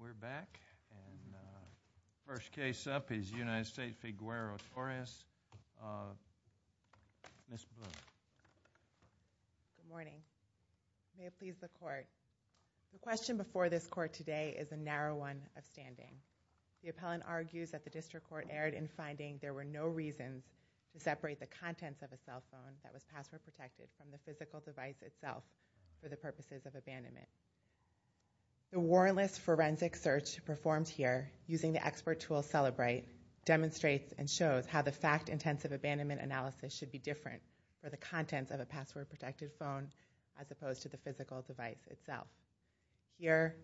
We're back and the first case up is United States v. Guerrero-Torres. Ms. Blue. Good morning. May it please the court. The question before this court today is a narrow one of standing. The appellant argues that the district court erred in finding there were no reasons to separate the contents of a cell phone that was password protected from the physical device itself for the purposes of abandonment. The warrantless forensic search performed here using the expert tool Celebrite demonstrates and shows how the fact-intensive abandonment analysis should be different for the contents of a password protected phone as opposed to the physical device itself. Here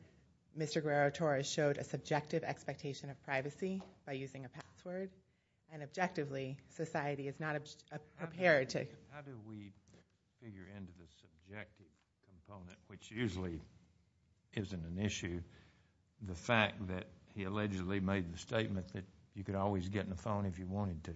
Mr. Guerrero-Torres showed a subjective expectation of privacy by using a password and objectively society is not prepared to How do we figure into the subjective component, which usually isn't an issue, the fact that he allegedly made the statement that you could always get in the phone if you wanted to?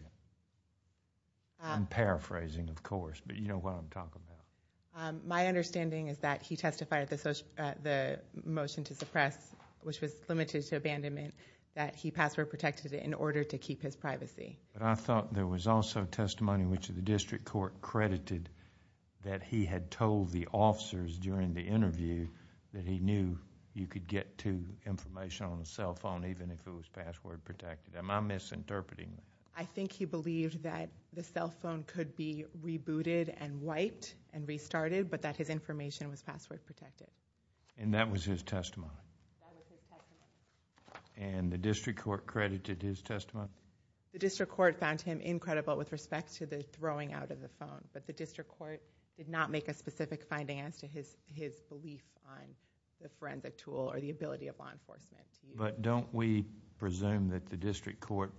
I'm paraphrasing of course, but you know what I'm talking about. My understanding is that he testified at the motion to suppress, which was limited to abandonment, that he password protected it in order to keep his privacy. I thought there was also testimony which the district court credited that he had told the officers during the interview that he knew you could get to information on the cell phone even if it was password protected. Am I misinterpreting that? I think he believed that the cell phone could be rebooted and wiped and restarted, but that his information was password protected. And that was his testimony? That was his testimony. And the district court credited his testimony? The district court found him incredible with respect to the throwing out of the phone, but the district court did not make a specific finding as to his belief on the forensic tool or the ability of law enforcement. But don't we presume that the district court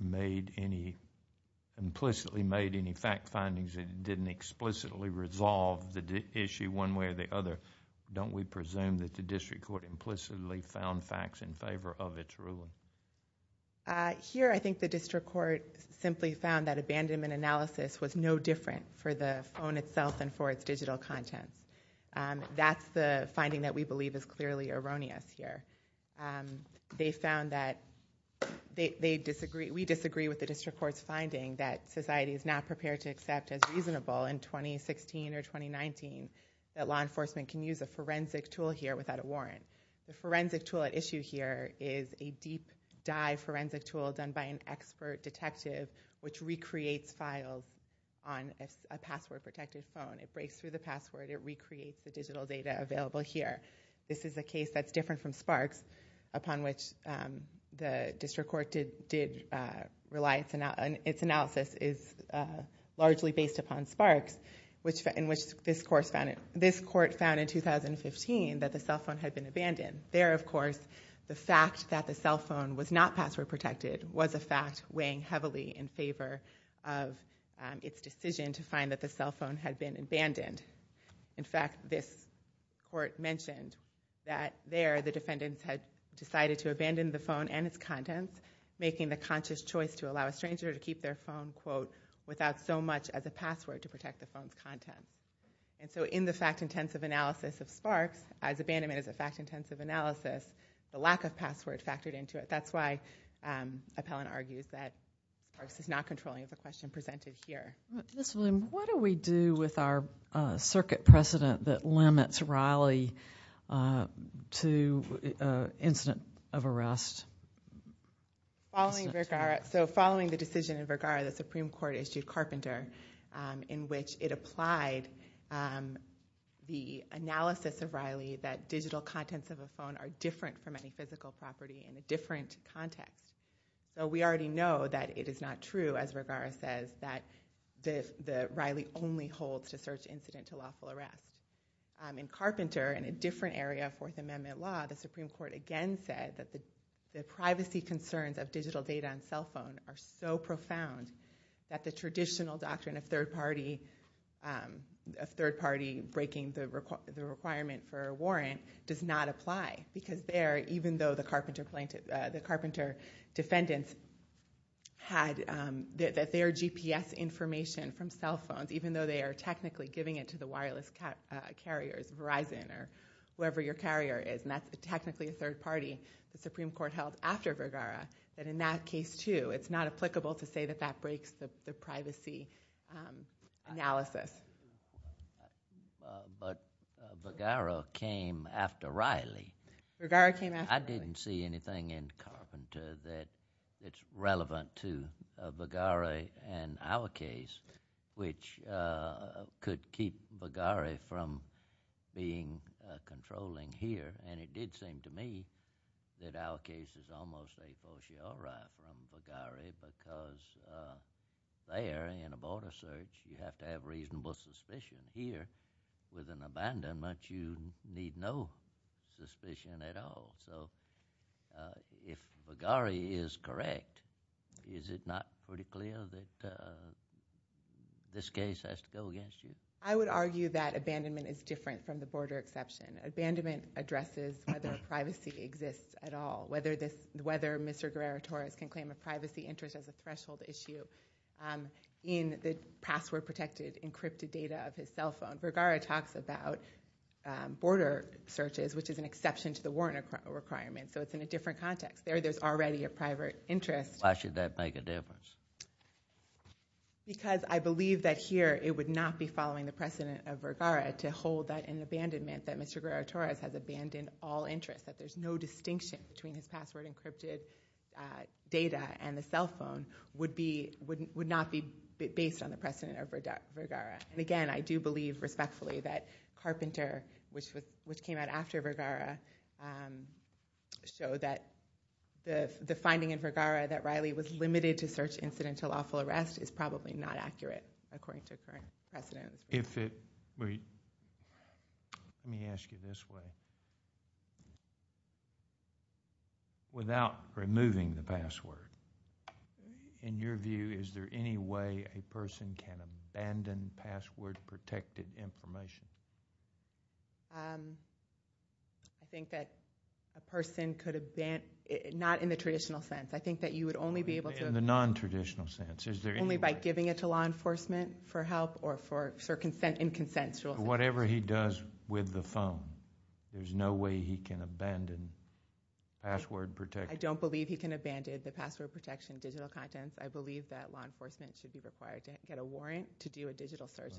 implicitly made any fact findings that didn't explicitly resolve the issue one way or the other? Don't we presume that the district court implicitly found facts in favor of its ruling? Here I think the district court simply found that abandonment analysis was no different for the phone itself and for its digital content. That's the finding that we believe is clearly erroneous here. They found that they disagree, we disagree with the district court's finding that society is not prepared to accept as reasonable in 2016 or 2019 that law enforcement can use a forensic tool here without a warrant. The forensic tool at issue here is a deep dive forensic tool done by an expert detective which recreates files on a password protected phone. It breaks through the password. It recreates the digital data available here. This is a case that's different from Sparks, upon which the district court did rely. Its analysis is largely based upon Sparks, in which this court found in 2015 that the cell phone had been abandoned. There, of course, the fact that the cell phone was not password protected was a fact weighing heavily in favor of its decision to find that the cell phone had been abandoned. In fact, this court mentioned that there the defendants had decided to abandon the phone and its contents, making the conscious choice to allow a stranger to keep their phone In the fact-intensive analysis of Sparks, as abandonment is a fact-intensive analysis, the lack of password factored into it. That's why Appellant argues that Sparks is not controlling the question presented here. Ms. William, what do we do with our circuit precedent that limits Riley to incident of arrest? Following the decision in Vergara, the Supreme Court issued Carpenter, in which it applied the analysis of Riley that digital contents of a phone are different from any physical property in a different context. We already know that it is not true, as Vergara says, that Riley only holds to search incident to lawful arrest. In Carpenter, in a different area of Fourth Amendment law, the Supreme Court again said that the privacy concerns of digital data on cell phones are so profound that the traditional doctrine of third party breaking the requirement for a warrant does not apply, because there, even though the Carpenter defendants had their GPS information from cell phones, even though they are technically giving it to the wireless carriers, Verizon, or whoever your carrier is, and that's technically a third party, the Supreme Court held after Vergara, that in that case too, it's not applicable to say that that breaks the privacy analysis. But Vergara came after Riley. Vergara came after Riley. I didn't see anything in Carpenter that it's relevant to Vergara and our case, which could keep Vergara from being controlling here, and it did seem to me that our case is almost a fortiori from Vergara, because there, in a border search, you have to have reasonable suspicion. Here, with an abandonment, you need no suspicion at all. So if Vergara is correct, is it not pretty clear that this case has to go against you? I would argue that abandonment is different from the border exception. Abandonment addresses whether privacy exists at all, whether Mr. Guerrero-Torres can claim a privacy interest as a threshold issue in the password-protected encrypted data of his cell phone. Vergara talks about border searches, which is an exception to the warrant requirement, so it's in a different context. There, there's already a private interest. Why should that make a difference? Because I believe that here it would not be following the precedent of Vergara to hold that an abandonment, that Mr. Guerrero-Torres has abandoned all interest, that there's no distinction between his password-encrypted data and the cell phone, would not be based on the precedent of Vergara. And again, I do believe respectfully that Carpenter, which came out after Vergara, showed that the finding in Vergara that Riley was limited to search incidental lawful arrest is probably not accurate, according to current precedent. If it, wait, let me ask you this way. Without removing the password, in your view, is there any way a person can abandon password-protected information? I think that a person could abandon, not in the traditional sense, I think that you would only be able to. In the nontraditional sense, is there any way? Only by giving it to law enforcement for help or in consent. Whatever he does with the phone, there's no way he can abandon password protection. I don't believe he can abandon the password protection digital contents. I believe that law enforcement should be required to get a warrant to do a digital search.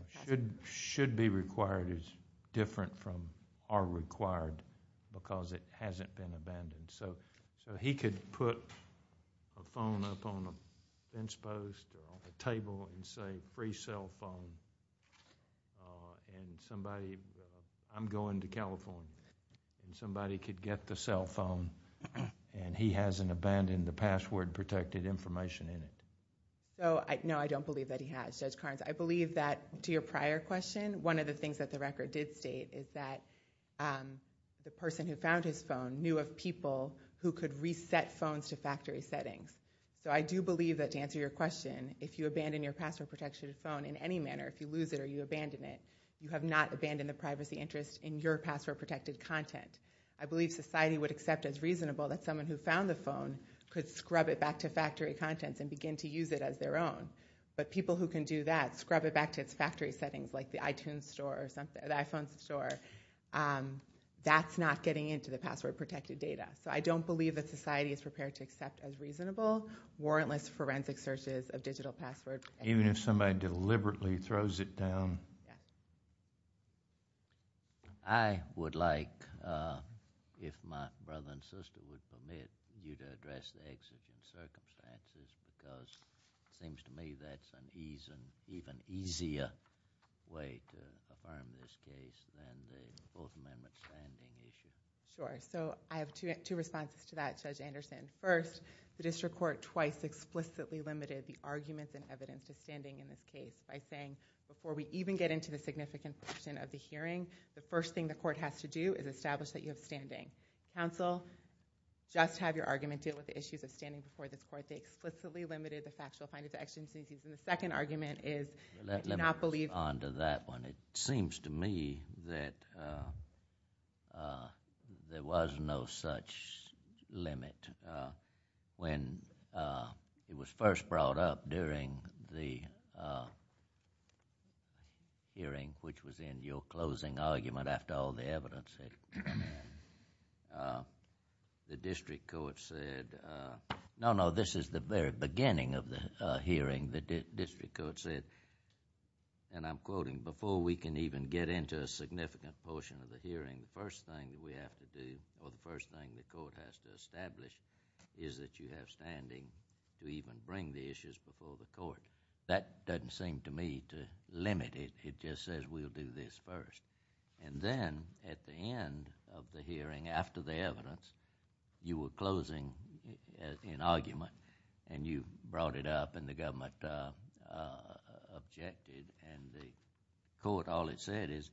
Should be required is different from are required because it hasn't been abandoned. He could put a phone up on a bench post or on a table and say, free cell phone and somebody, I'm going to California, and somebody could get the cell phone and he hasn't abandoned the password-protected information in it. No, I don't believe that he has, Judge Carnes. I believe that, to your prior question, one of the things that the record did state is that the person who found his phone knew of people who could reset phones to factory settings. So I do believe that, to answer your question, if you abandon your password-protected phone in any manner, if you lose it or you abandon it, you have not abandoned the privacy interest in your password-protected content. I believe society would accept as reasonable that someone who found the phone could scrub it back to factory contents and begin to use it as their own. But people who can do that, scrub it back to its factory settings, like the iTunes store or the iPhone store, that's not getting into the password-protected data. So I don't believe that society is prepared to accept as reasonable warrantless forensic searches of digital password. Even if somebody deliberately throws it down? Yeah. I would like, if my brother and sister would permit, you to address the exigent circumstances, because it seems to me that's an even easier way to affirm this case than the Fourth Amendment standing issue. Sure. So I have two responses to that, Judge Anderson. First, the district court twice explicitly limited the arguments and evidence of standing in this case by saying, before we even get into the significant portion of the hearing, the first thing the court has to do is establish that you have standing. Counsel, just have your argument deal with the issues of standing before this court. They explicitly limited the factual findings of exigent circumstances. The second argument is... Let me move on to that one. It seems to me that there was no such limit. When it was first brought up during the hearing, which was in your closing argument after all the evidence, the district court said... No, no, this is the very beginning of the hearing. The district court said, and I'm quoting, before we can even get into a significant portion of the hearing, the first thing we have to do, or the first thing the court has to establish, is that you have standing to even bring the issues before the court. That doesn't seem to me to limit it. It just says we'll do this first. Then, at the end of the hearing, after the evidence, you were closing an argument, and you brought it up, and the government objected, and the court, all it said is,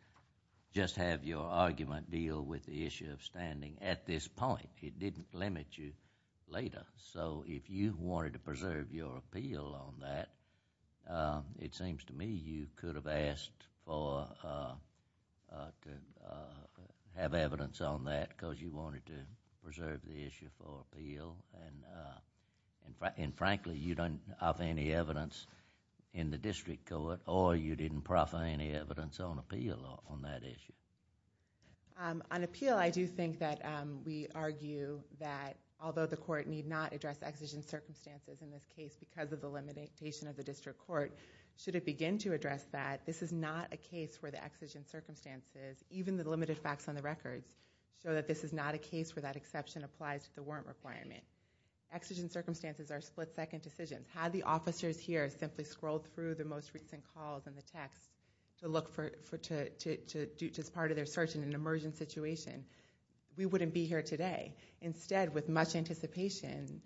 just have your argument deal with the issue of standing at this point. It didn't limit you later. If you wanted to preserve your appeal on that, it seems to me you could have asked to have evidence on that because you wanted to preserve the issue for appeal. Frankly, you don't have any evidence in the district court, or you didn't proffer any evidence on appeal on that issue. On appeal, I do think that we argue that, although the court need not address the exigent circumstances in this case because of the limitation of the district court, should it begin to address that, this is not a case where the exigent circumstances, even the limited facts on the records, show that this is not a case where that exception applies to the warrant requirement. Exigent circumstances are split-second decisions. Had the officers here simply scrolled through the most recent calls and the texts to look for it as part of their search in an emergent situation, we wouldn't be here today. Instead, with much anticipation,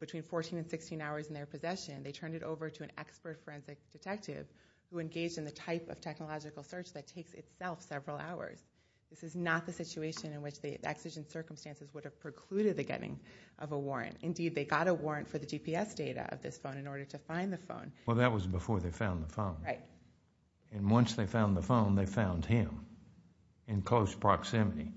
between fourteen and sixteen hours in their possession, they turned it over to an expert forensic detective who engaged in the type of technological search that takes itself several hours. This is not the situation in which the exigent circumstances would have precluded the getting of a warrant. Indeed, they got a warrant for the GPS data of this phone in order to find the phone. Well, that was before they found the phone. Right. Once they found the phone, they found him in close proximity.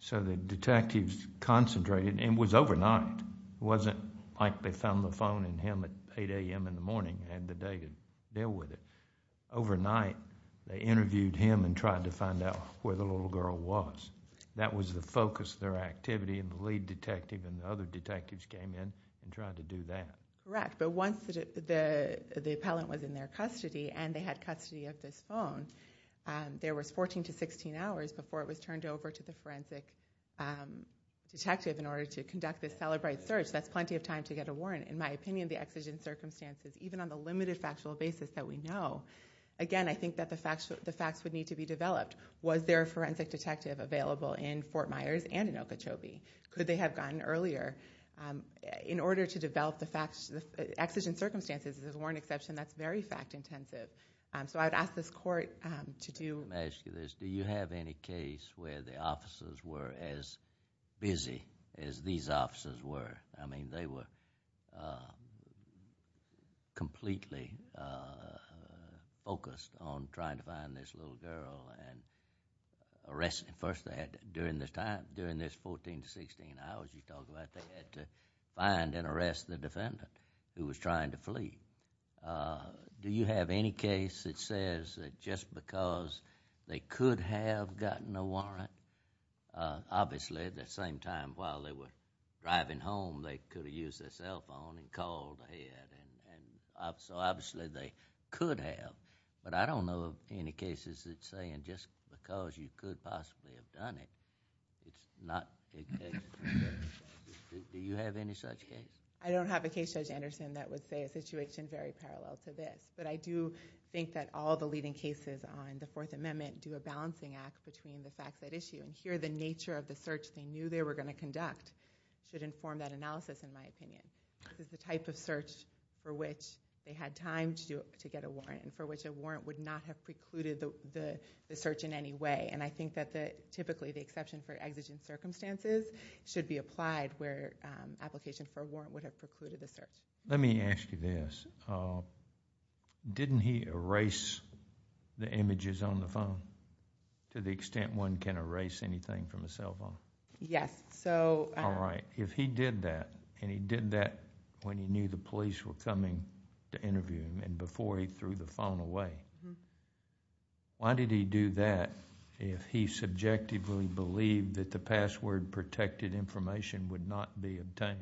So the detectives concentrated, and it was overnight. It wasn't like they found the phone in him at 8 a.m. in the morning and had the day to deal with it. Overnight, they interviewed him and tried to find out where the little girl was. That was the focus of their activity, and the lead detective and the other detectives came in and tried to do that. Correct, but once the appellant was in their custody, and they had custody of this phone, there was 14 to 16 hours before it was turned over to the forensic detective in order to conduct this celebrated search. That's plenty of time to get a warrant. In my opinion, the exigent circumstances, even on the limited factual basis that we know, again, I think that the facts would need to be developed. Was there a forensic detective available in Fort Myers and in Okeechobee? Could they have gotten earlier? In order to develop the exigent circumstances, there's a warrant exception that's very fact-intensive. So I would ask this court to do... Let me ask you this. Do you have any case where the officers were as busy as these officers were? I mean, they were completely focused on trying to find this little girl and arrest... First, during this time, during this 14 to 16 hours you talk about, Do you have any case that says that just because they could have gotten a warrant... Obviously, at the same time while they were driving home, they could have used their cell phone and called ahead. So obviously, they could have. But I don't know of any cases that say just because you could possibly have done it, it's not... Do you have any such case? I don't have a case, Judge Anderson, that would say a situation very parallel to this. But I do think that all the leading cases on the Fourth Amendment do a balancing act between the facts at issue. And here, the nature of the search they knew they were going to conduct should inform that analysis, in my opinion. This is the type of search for which they had time to get a warrant and for which a warrant would not have precluded the search in any way. And I think that typically the exception for exigent circumstances should be applied where application for a warrant would have precluded the search. Let me ask you this. Didn't he erase the images on the phone to the extent one can erase anything from a cell phone? Yes. All right. If he did that, and he did that when he knew the police were coming to interview him and before he threw the phone away, why did he do that if he subjectively believed that the password-protected information would not be obtained?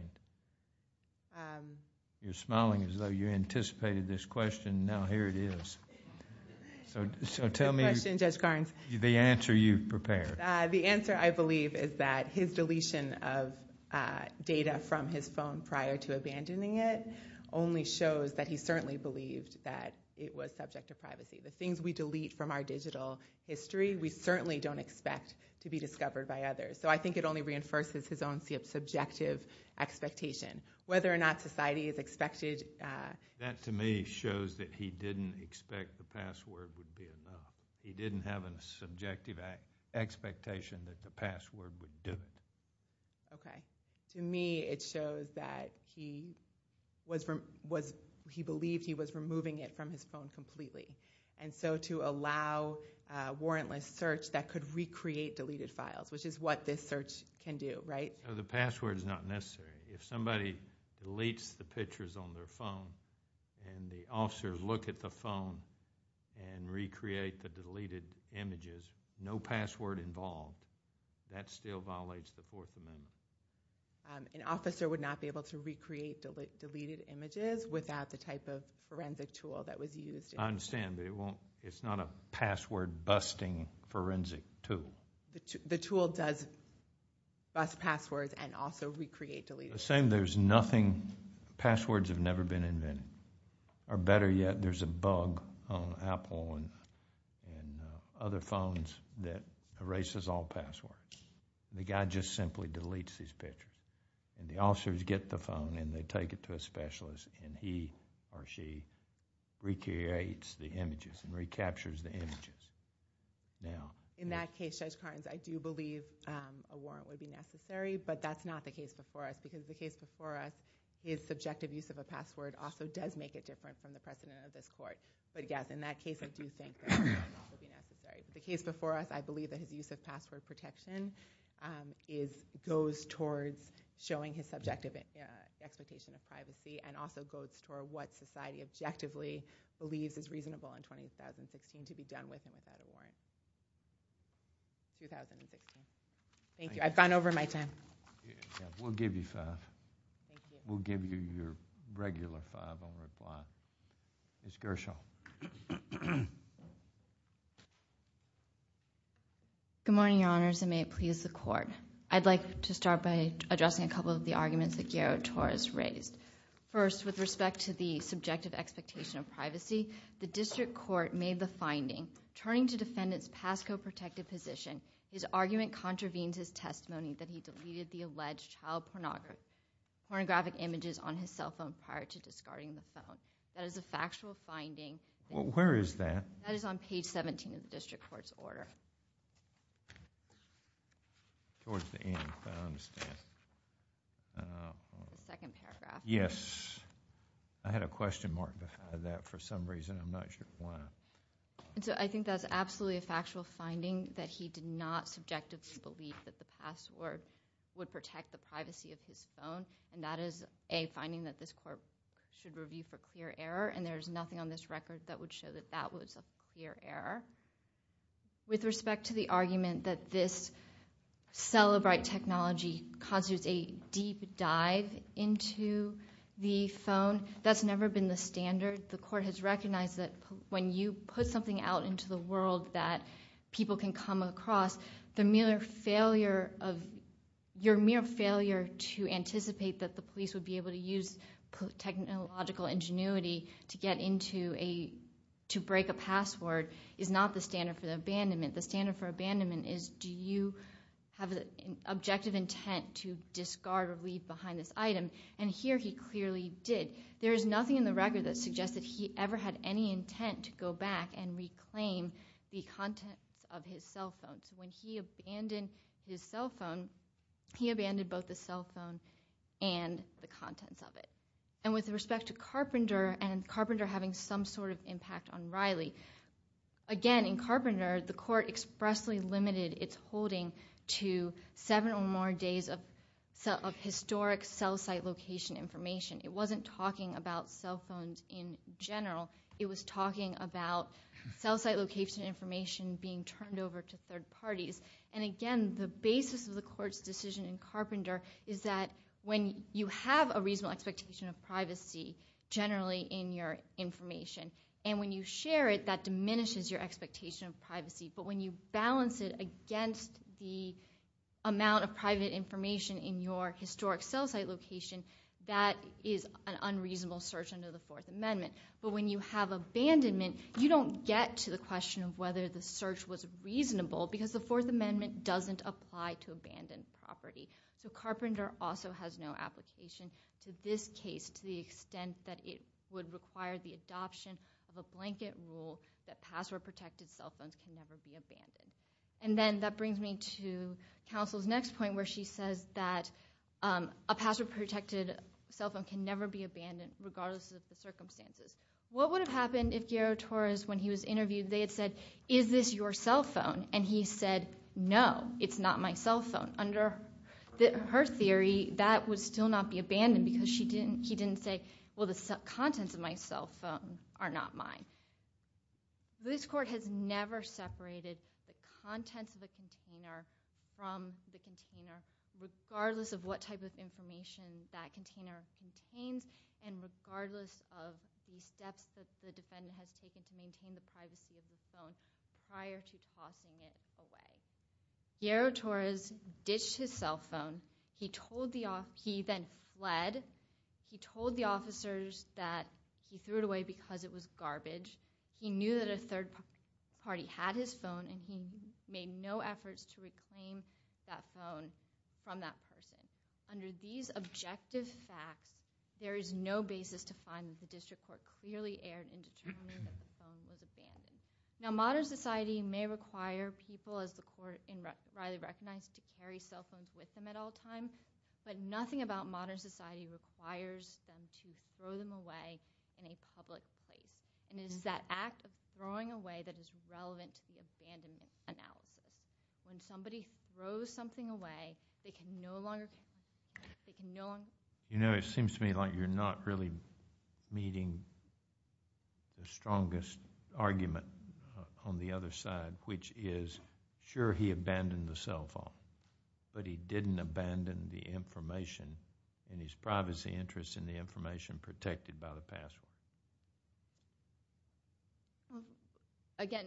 You're smiling as though you anticipated this question. Now here it is. So tell me the answer you've prepared. The answer, I believe, is that his deletion of data from his phone prior to abandoning it only shows that he certainly believed that it was subject to privacy. The things we delete from our digital history, we certainly don't expect to be discovered by others. So I think it only reinforces his own subjective expectation. Whether or not society has expected— That to me shows that he didn't expect the password would be enough. He didn't have a subjective expectation that the password would do it. Okay. To me, it shows that he believed he was removing it from his phone completely. And so to allow warrantless search that could recreate deleted files, which is what this search can do, right? The password is not necessary. If somebody deletes the pictures on their phone and the officers look at the phone and recreate the deleted images, no password involved, that still violates the Fourth Amendment. An officer would not be able to recreate deleted images without the type of forensic tool that was used. I understand, but it's not a password-busting forensic tool. The tool does bust passwords and also recreate deleted images. The same, there's nothing—passwords have never been invented. Or better yet, there's a bug on Apple and other phones that erases all passwords. The guy just simply deletes his picture. And the officers get the phone and they take it to a specialist and he or she recreates the images and recaptures the images. Now... In that case, Judge Carnes, I do believe a warrant would be necessary, but that's not the case before us because the case before us is subjective use of a password also does make it different from the precedent of this court. But yes, in that case, I do think a warrant would be necessary. The case before us, I believe that his use of password protection goes towards showing his subjective expectation of privacy and also goes toward what society objectively believes is reasonable in 2016 to be done with him without a warrant. 2016. Thank you. I've gone over my time. We'll give you five. We'll give you your regular five on reply. Ms. Gershaw. Good morning, Your Honors, and may it please the court. I'd like to start by addressing a couple of the arguments that Guillermo Torres raised. First, with respect to the subjective expectation of privacy, the district court made the finding, turning to defendants' past co-protective position, his argument contravenes his testimony that he deleted the alleged child pornographic images on his cell phone prior to discarding the phone. That is a factual finding. Where is that? That is on page 17 of the district court's order. Towards the end, I understand. The second paragraph. Yes. I had a question mark behind that for some reason. I'm not sure why. I think that's absolutely a factual finding, that he did not subjectively believe that the password would protect the privacy of his phone. And that is a finding that this court should review for clear error, and there's nothing on this record that would show that that was a clear error. With respect to the argument that this Cellebrite technology causes a deep dive into the phone, that's never been the standard. The court has recognized that when you put something out into the world that people can come across, your mere failure to anticipate that the police would be able to use technological ingenuity to break a password is not the standard for abandonment. The standard for abandonment is, do you have an objective intent to discard or leave behind this item? And here he clearly did. There is nothing in the record that suggests that he ever had any intent to go back and reclaim the contents of his cell phone. So when he abandoned his cell phone, he abandoned both the cell phone and the contents of it. And with respect to Carpenter, and Carpenter having some sort of impact on Riley, again, in Carpenter, the court expressly limited its holding to seven or more days of historic cell site location information. It wasn't talking about cell phones in general. It was talking about cell site location information being turned over to third parties. And again, the basis of the court's decision in Carpenter is that when you have a reasonable expectation of privacy generally in your information, and when you share it, that diminishes your expectation of privacy. But when you balance it against the amount of private information in your historic cell site location, that is an unreasonable search under the Fourth Amendment. But when you have abandonment, you don't get to the question of whether the search was reasonable, because the Fourth Amendment doesn't apply to abandoned property. So Carpenter also has no application to this case to the extent that it would require the adoption of a blanket rule that password-protected cell phones can never be abandoned. And then that brings me to counsel's next point, where she says that a password-protected cell phone can never be abandoned, regardless of the circumstances. What would have happened if Guero Torres, when he was interviewed, they had said, is this your cell phone? And he said, no, it's not my cell phone. Under her theory, that would still not be abandoned, because he didn't say, well, the contents of my cell phone are not mine. This court has never separated the contents of the container from the container, regardless of what type of information that container contains, and regardless of the steps that the defendant has taken to maintain the privacy of his phone prior to tossing it away. Guero Torres ditched his cell phone. He then fled. He told the officers that he threw it away because it was garbage. He knew that a third party had his phone, and he made no efforts to reclaim that phone from that person. Under these objective facts, there is no basis to find that the district court clearly erred in determining that the phone was abandoned. Now, modern society may require people, as the court rightly recognized, to carry cell phones with them at all times, but nothing about modern society requires them to throw them away in a public place. It is that act of throwing away that is relevant to the abandonment analysis. When somebody throws something away, they can no longer carry it. You know, it seems to me like you're not really meeting the strongest argument on the other side, which is, sure, he abandoned the cell phone, but he didn't abandon the information and his privacy interests in the information protected by the password. Again,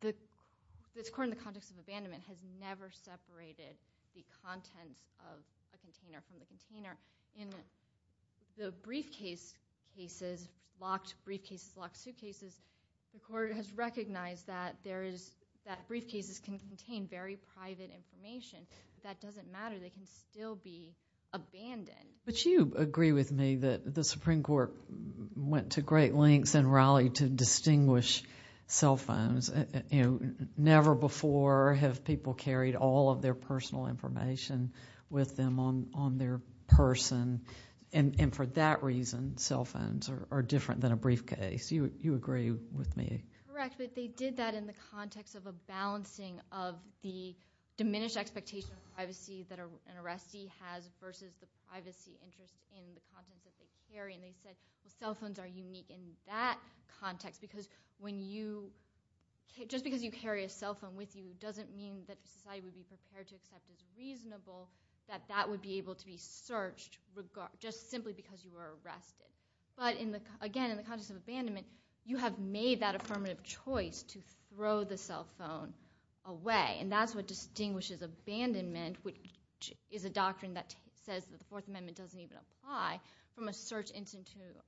this court, in the context of abandonment, has never separated the contents of a container from the container. In the briefcase cases, locked briefcases, locked suitcases, the court has recognized that briefcases can contain very private information. That doesn't matter. They can still be abandoned. But you agree with me that the Supreme Court went to great lengths in Raleigh to distinguish cell phones. You know, never before have people carried personal information with them on their person. And for that reason, cell phones are different than a briefcase. You agree with me. Correct, but they did that in the context of a balancing of the diminished expectation of privacy that an arrestee has versus the privacy interest in the contents that they carry. And they said cell phones are unique in that context because when you... Just because you carry a cell phone with you doesn't mean that society would be prepared to accept it as reasonable, that that would be able to be searched just simply because you were arrested. But again, in the context of abandonment, you have made that a permanent choice to throw the cell phone away. And that's what distinguishes abandonment, which is a doctrine that says that the Fourth Amendment doesn't even apply from a search into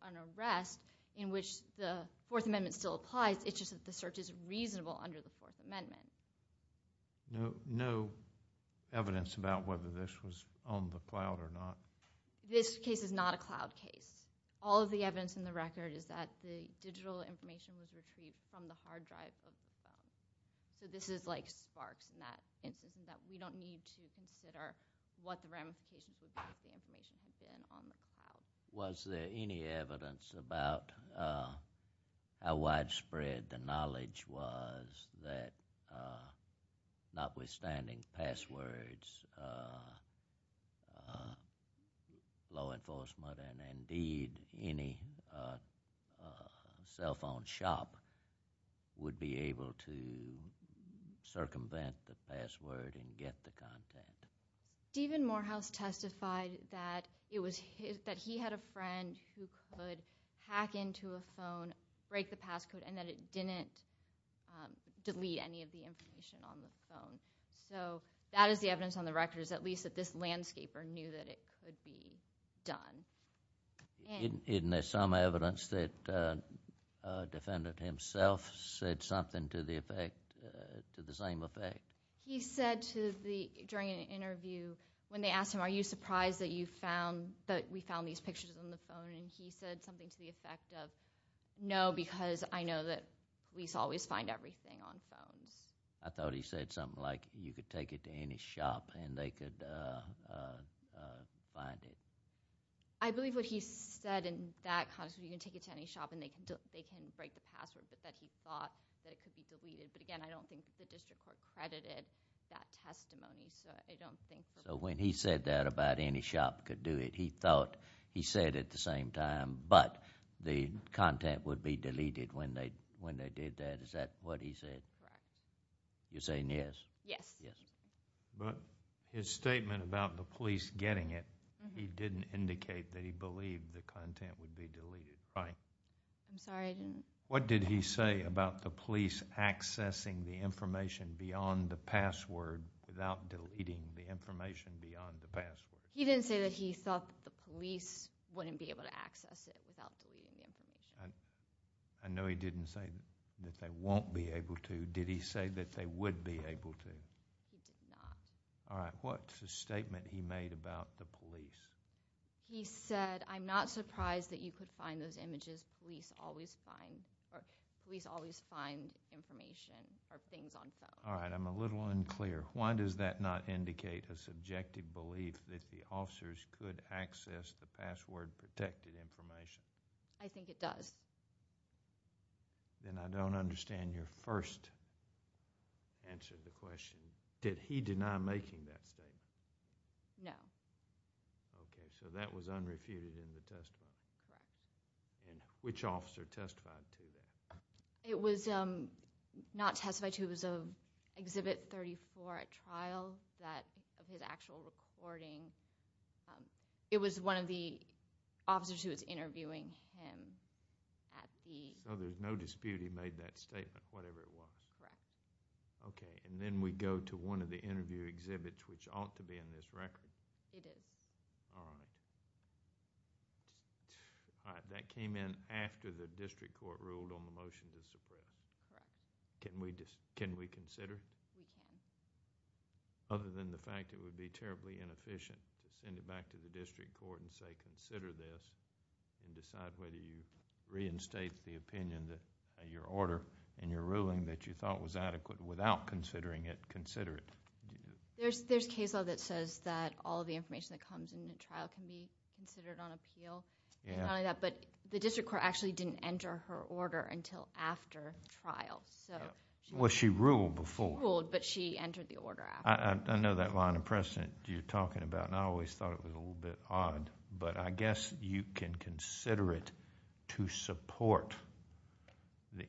an arrest in which the Fourth Amendment still applies. It's just that the search is reasonable under the Fourth Amendment. No evidence about whether this was on the cloud or not? This case is not a cloud case. All of the evidence in the record is that the digital information was retrieved from the hard drive of the phone. So this is like sparks in that instance in that we don't need to consider what the ramifications would be if the information had been on the cloud. Was there any evidence about how widespread the knowledge was that notwithstanding passwords, law enforcement, and indeed any cell phone shop would be able to circumvent the password and get the content? Stephen Morehouse testified and that it didn't delete any of the information on the phone. So that is the evidence on the record, is at least that this landscaper knew that it could be done. Isn't there some evidence that a defendant himself said something to the same effect? He said during an interview, when they asked him, are you surprised that we found these pictures on the phone? And he said something to the effect of no, because I know that police always find everything on phones. I thought he said something like you could take it to any shop and they could find it. I believe what he said in that context was you can take it to any shop and they can break the password that he thought that it could be deleted. But again, I don't think the district court credited that testimony. So when he said that about any shop could do it, he said at the same time, but the content would be deleted when they did that. Is that what he said? Right. You're saying yes? Yes. Yes. But his statement about the police getting it, he didn't indicate that he believed the content would be deleted, right? I'm sorry, I didn't. What did he say about the police accessing the information beyond the password without deleting the information beyond the password? He didn't say that he thought the police wouldn't be able to access it without deleting the information. I know he didn't say that they won't be able to. Did he say that they would be able to? He did not. All right. What's his statement he made about the police? He said, I'm not surprised that you could find those images. Police always find information or things on phones. All right. I'm a little unclear. Why does that not indicate a subjective belief that the officers could access the password-protected information? I think it does. Then I don't understand your first answer to the question. Did he deny making that statement? No. Okay, so that was unrefuted in the testimony. Right. And which officer testified to that? It was not testified to. It was Exhibit 34 at trial, that of his actual recording. It was one of the officers who was interviewing him at the- So there's no dispute he made that statement, whatever it was. Correct. Okay, and then we go to one of the interview exhibits which ought to be in this record. It is. All right. That came in after the district court ruled on the motion to suppress. Correct. Can we consider? Other than the fact it would be terribly inefficient to send it back to the district court and say, consider this, and decide whether you reinstate the opinion that your order and your ruling that you thought was adequate without considering it, consider it. There's case law that says that all of the information that comes in the trial can be considered on appeal. Yeah. But the district court actually didn't enter her order until after the trial. Well, she ruled before. She ruled, but she entered the order after. I know that line of precedent you're talking about, and I always thought it was a little bit odd, but I guess you can consider it to support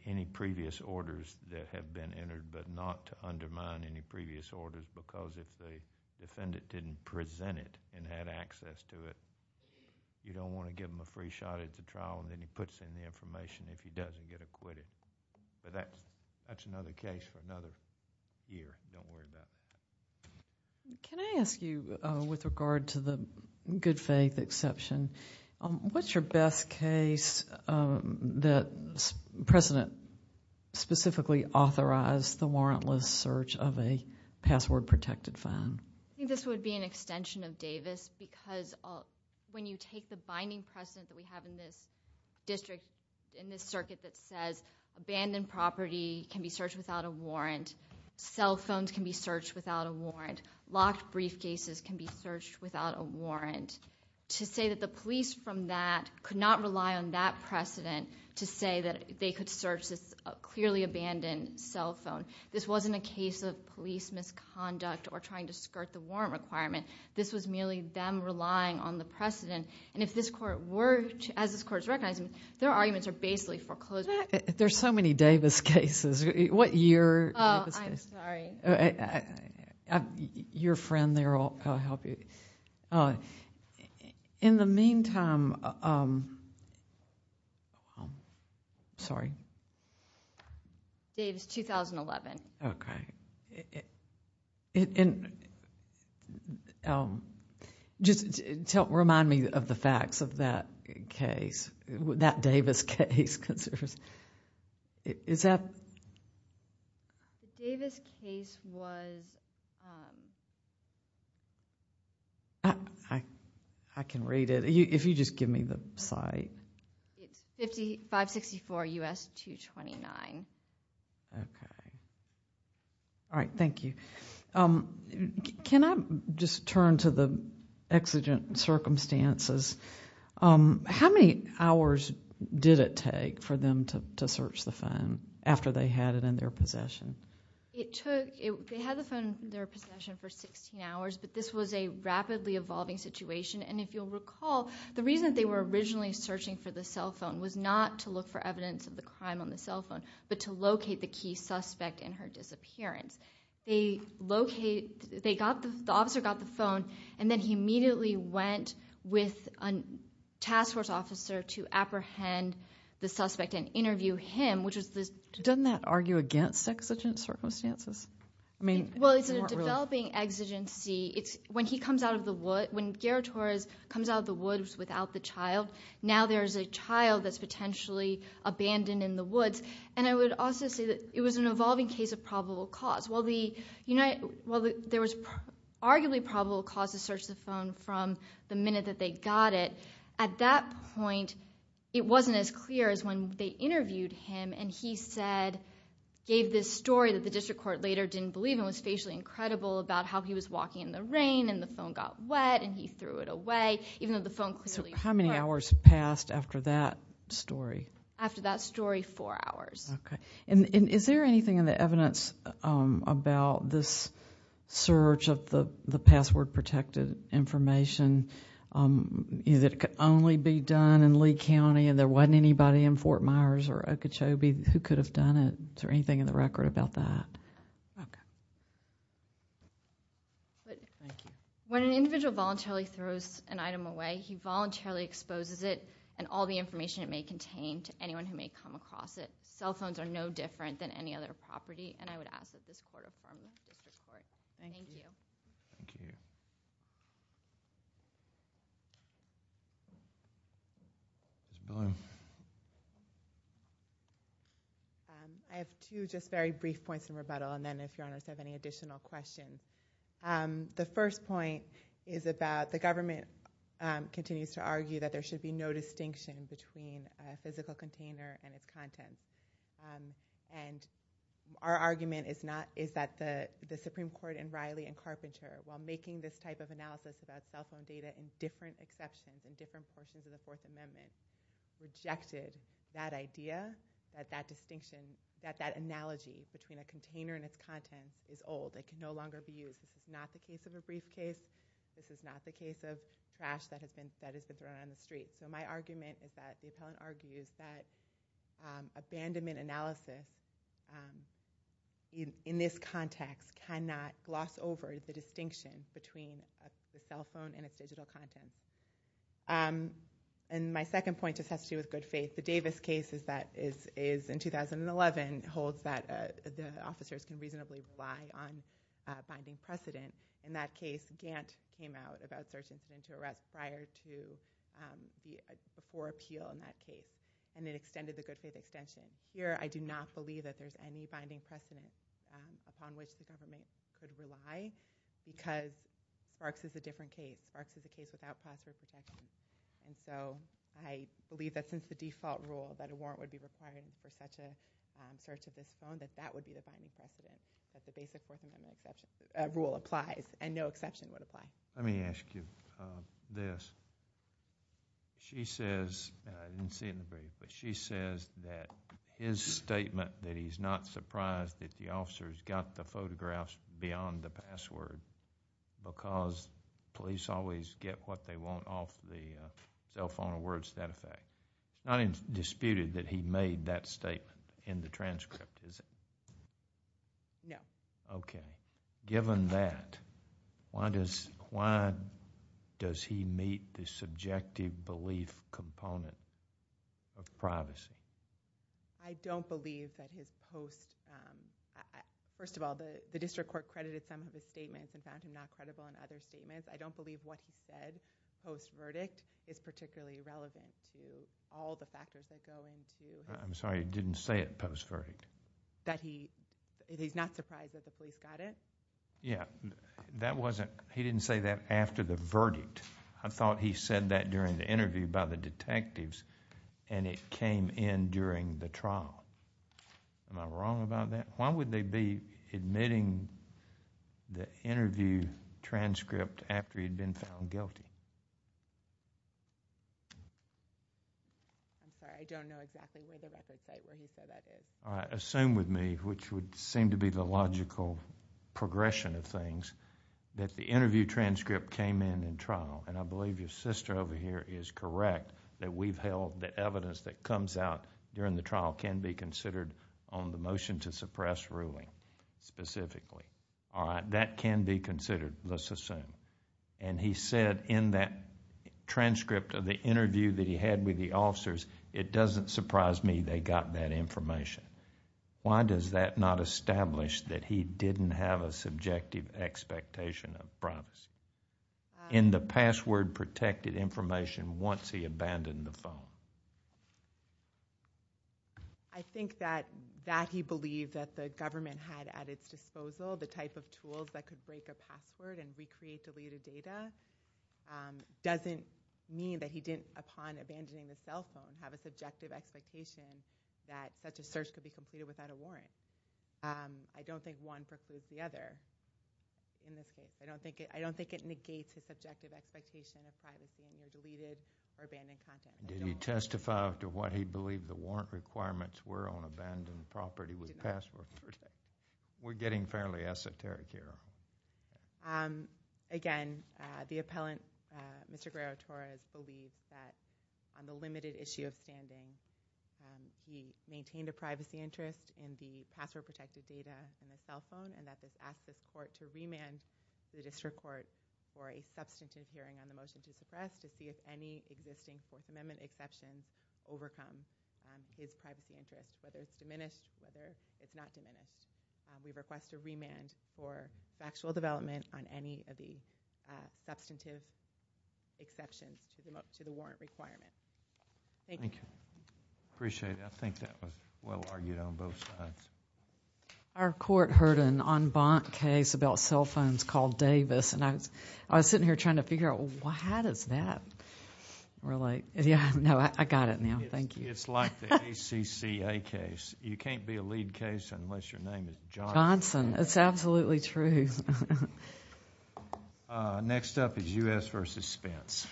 any previous orders that have been entered, but not to undermine any previous orders, because if the defendant didn't present it and had access to it, you don't want to give him a free shot at the trial, and then he puts in the information if he doesn't get acquitted. But that's another case for another year. Don't worry about it. Can I ask you, with regard to the good-faith exception, what's your best case that precedent specifically authorized the warrantless search of a password-protected phone? I think this would be an extension of Davis, because when you take the binding precedent that we have in this district, in this circuit, that says abandoned property can be searched without a warrant, cell phones can be searched without a warrant, locked briefcases can be searched without a warrant, to say that the police from that could not rely on that precedent to say that they could search this clearly abandoned cell phone, this wasn't a case of police misconduct or trying to skirt the warrant requirement. This was merely them relying on the precedent, and if this court were to, as this court is recognizing, their arguments are basically foreclosed. There's so many Davis cases. What year? Oh, I'm sorry. Your friend there will help you. In the meantime... Sorry. Davis, 2011. Okay. Just remind me of the facts of that case, that Davis case. Is that... The Davis case was... I can read it. If you just give me the site. It's 5564 U.S. 229. Okay. All right, thank you. Can I just turn to the exigent circumstances? How many hours did it take for them to search the phone after they had it in their possession? It took... They had the phone in their possession for 16 hours, but this was a rapidly evolving situation, and if you'll recall, the reason they were originally searching for the cell phone was not to look for evidence of the crime on the cell phone, but to locate the key suspect in her disappearance. They located... The officer got the phone, and then he immediately went with a task force officer to apprehend the suspect and interview him, which was this... Doesn't that argue against exigent circumstances? Well, it's a developing exigency. When he comes out of the wood... When Gerrit Torres comes out of the woods without the child, now there's a child that's potentially abandoned in the woods. And I would also say that it was an evolving case of probable cause. While there was arguably probable cause to search the phone from the minute that they got it, at that point it wasn't as clear as when they interviewed him, and he said... gave this story that the district court later didn't believe and was facially incredible about how he was walking in the rain, and the phone got wet, and he threw it away, even though the phone clearly... So how many hours passed after that story? After that story, four hours. Okay. And is there anything in the evidence about this search of the password-protected information that could only be done in Lee County, and there wasn't anybody in Fort Myers or Okeechobee who could have done it? Is there anything in the record about that? Okay. Thank you. When an individual voluntarily throws an item away, he voluntarily exposes it and all the information it may contain to anyone who may come across it. Cell phones are no different than any other property, and I would ask that this court inform the district court. Thank you. Thank you. Ms. Blum. I have two just very brief points in rebuttal, and then if Your Honors have any additional questions. The first point is about the government continues to argue that there should be no distinction between a physical container and its contents. And our argument is that the Supreme Court in Riley and Carpenter, while making this type of analysis about cell phone data and different exceptions in different portions of the Fourth Amendment, rejected that idea that that analogy between a container and its contents is old. They can no longer be used. This is not the case of a briefcase. This is not the case of trash that has been thrown on the street. So my argument is that the appellant argues that abandonment analysis, in this context, cannot gloss over the distinction between a cell phone and its digital contents. And my second point just has to do with good faith. The Davis case is in 2011, and holds that the officers can reasonably rely on binding precedent. In that case, Gantt came out about search incident to arrest prior to before appeal in that case, and it extended the good faith extension. Here, I do not believe that there's any binding precedent upon which the government could rely because Sparks is a different case. Sparks is a case without prosperous protection. And so I believe that since the default rule, that a warrant would be required for such a search of this phone, that that would be the binding precedent. That the basic Fourth Amendment rule applies, and no exception would apply. Let me ask you this. She says, and I didn't see it in the brief, but she says that his statement that he's not surprised that the officers got the photographs beyond the password because police always get what they want off the cell phone awards to that effect. Not disputed that he made that statement in the transcript, is it? No. Okay. Given that, why does he meet the subjective belief component of privacy? I don't believe that his post... First of all, the district court credited some of his statements and found him not credible in other statements. I don't believe what he said post-verdict is particularly relevant to all the factors that go into... I'm sorry. He didn't say it post-verdict. That he's not surprised that the police got it? Yeah. That wasn't... He didn't say that after the verdict. I thought he said that during the interview by the detectives, and it came in during the trial. Am I wrong about that? Why would they be admitting the interview transcript after he'd been found guilty? I'm sorry. I don't know exactly where the record site where he said that is. Assume with me, which would seem to be the logical progression of things, that the interview transcript came in in trial, and I believe your sister over here is correct that we've held the evidence that comes out during the trial can be considered on the motion to suppress ruling, specifically. That can be considered, let's assume. He said in that transcript of the interview that he had with the officers, it doesn't surprise me they got that information. Why does that not establish that he didn't have a subjective expectation of promise in the password-protected information once he abandoned the phone? I think that he believed that the government had at its disposal the type of tools that could break a password and recreate deleted data doesn't mean that he didn't, upon abandoning the cell phone, have a subjective expectation that such a search could be completed without a warrant. I don't think one precludes the other in this case. I don't think it negates his subjective expectation of privacy in the deleted or abandoned content. Did he testify to what he believed the warrant requirements were on abandoned property with password protection? We're getting fairly esoteric here. Again, the appellant, Mr. Guerrero-Torres, believes that on the limited issue of standing, he maintained a privacy interest in the password-protected data in the cell phone and that this asked the court to remand the district court for a substantive hearing on the motion to suppress to see if any existing Fourth Amendment exceptions overcome his privacy interest, whether it's diminished, whether it's not diminished. We request a remand for factual development on any of the substantive exceptions to the warrant requirements. Thank you. Appreciate it. I think that was well-argued on both sides. Our court heard an en banc case about cell phones called Davis. I was sitting here trying to figure out, well, how does that relate? No, I got it now. Thank you. It's like the ACCA case. You can't be a lead case unless your name is Johnson. Johnson. It's absolutely true. Next up is U.S. v. Spence. Thank you.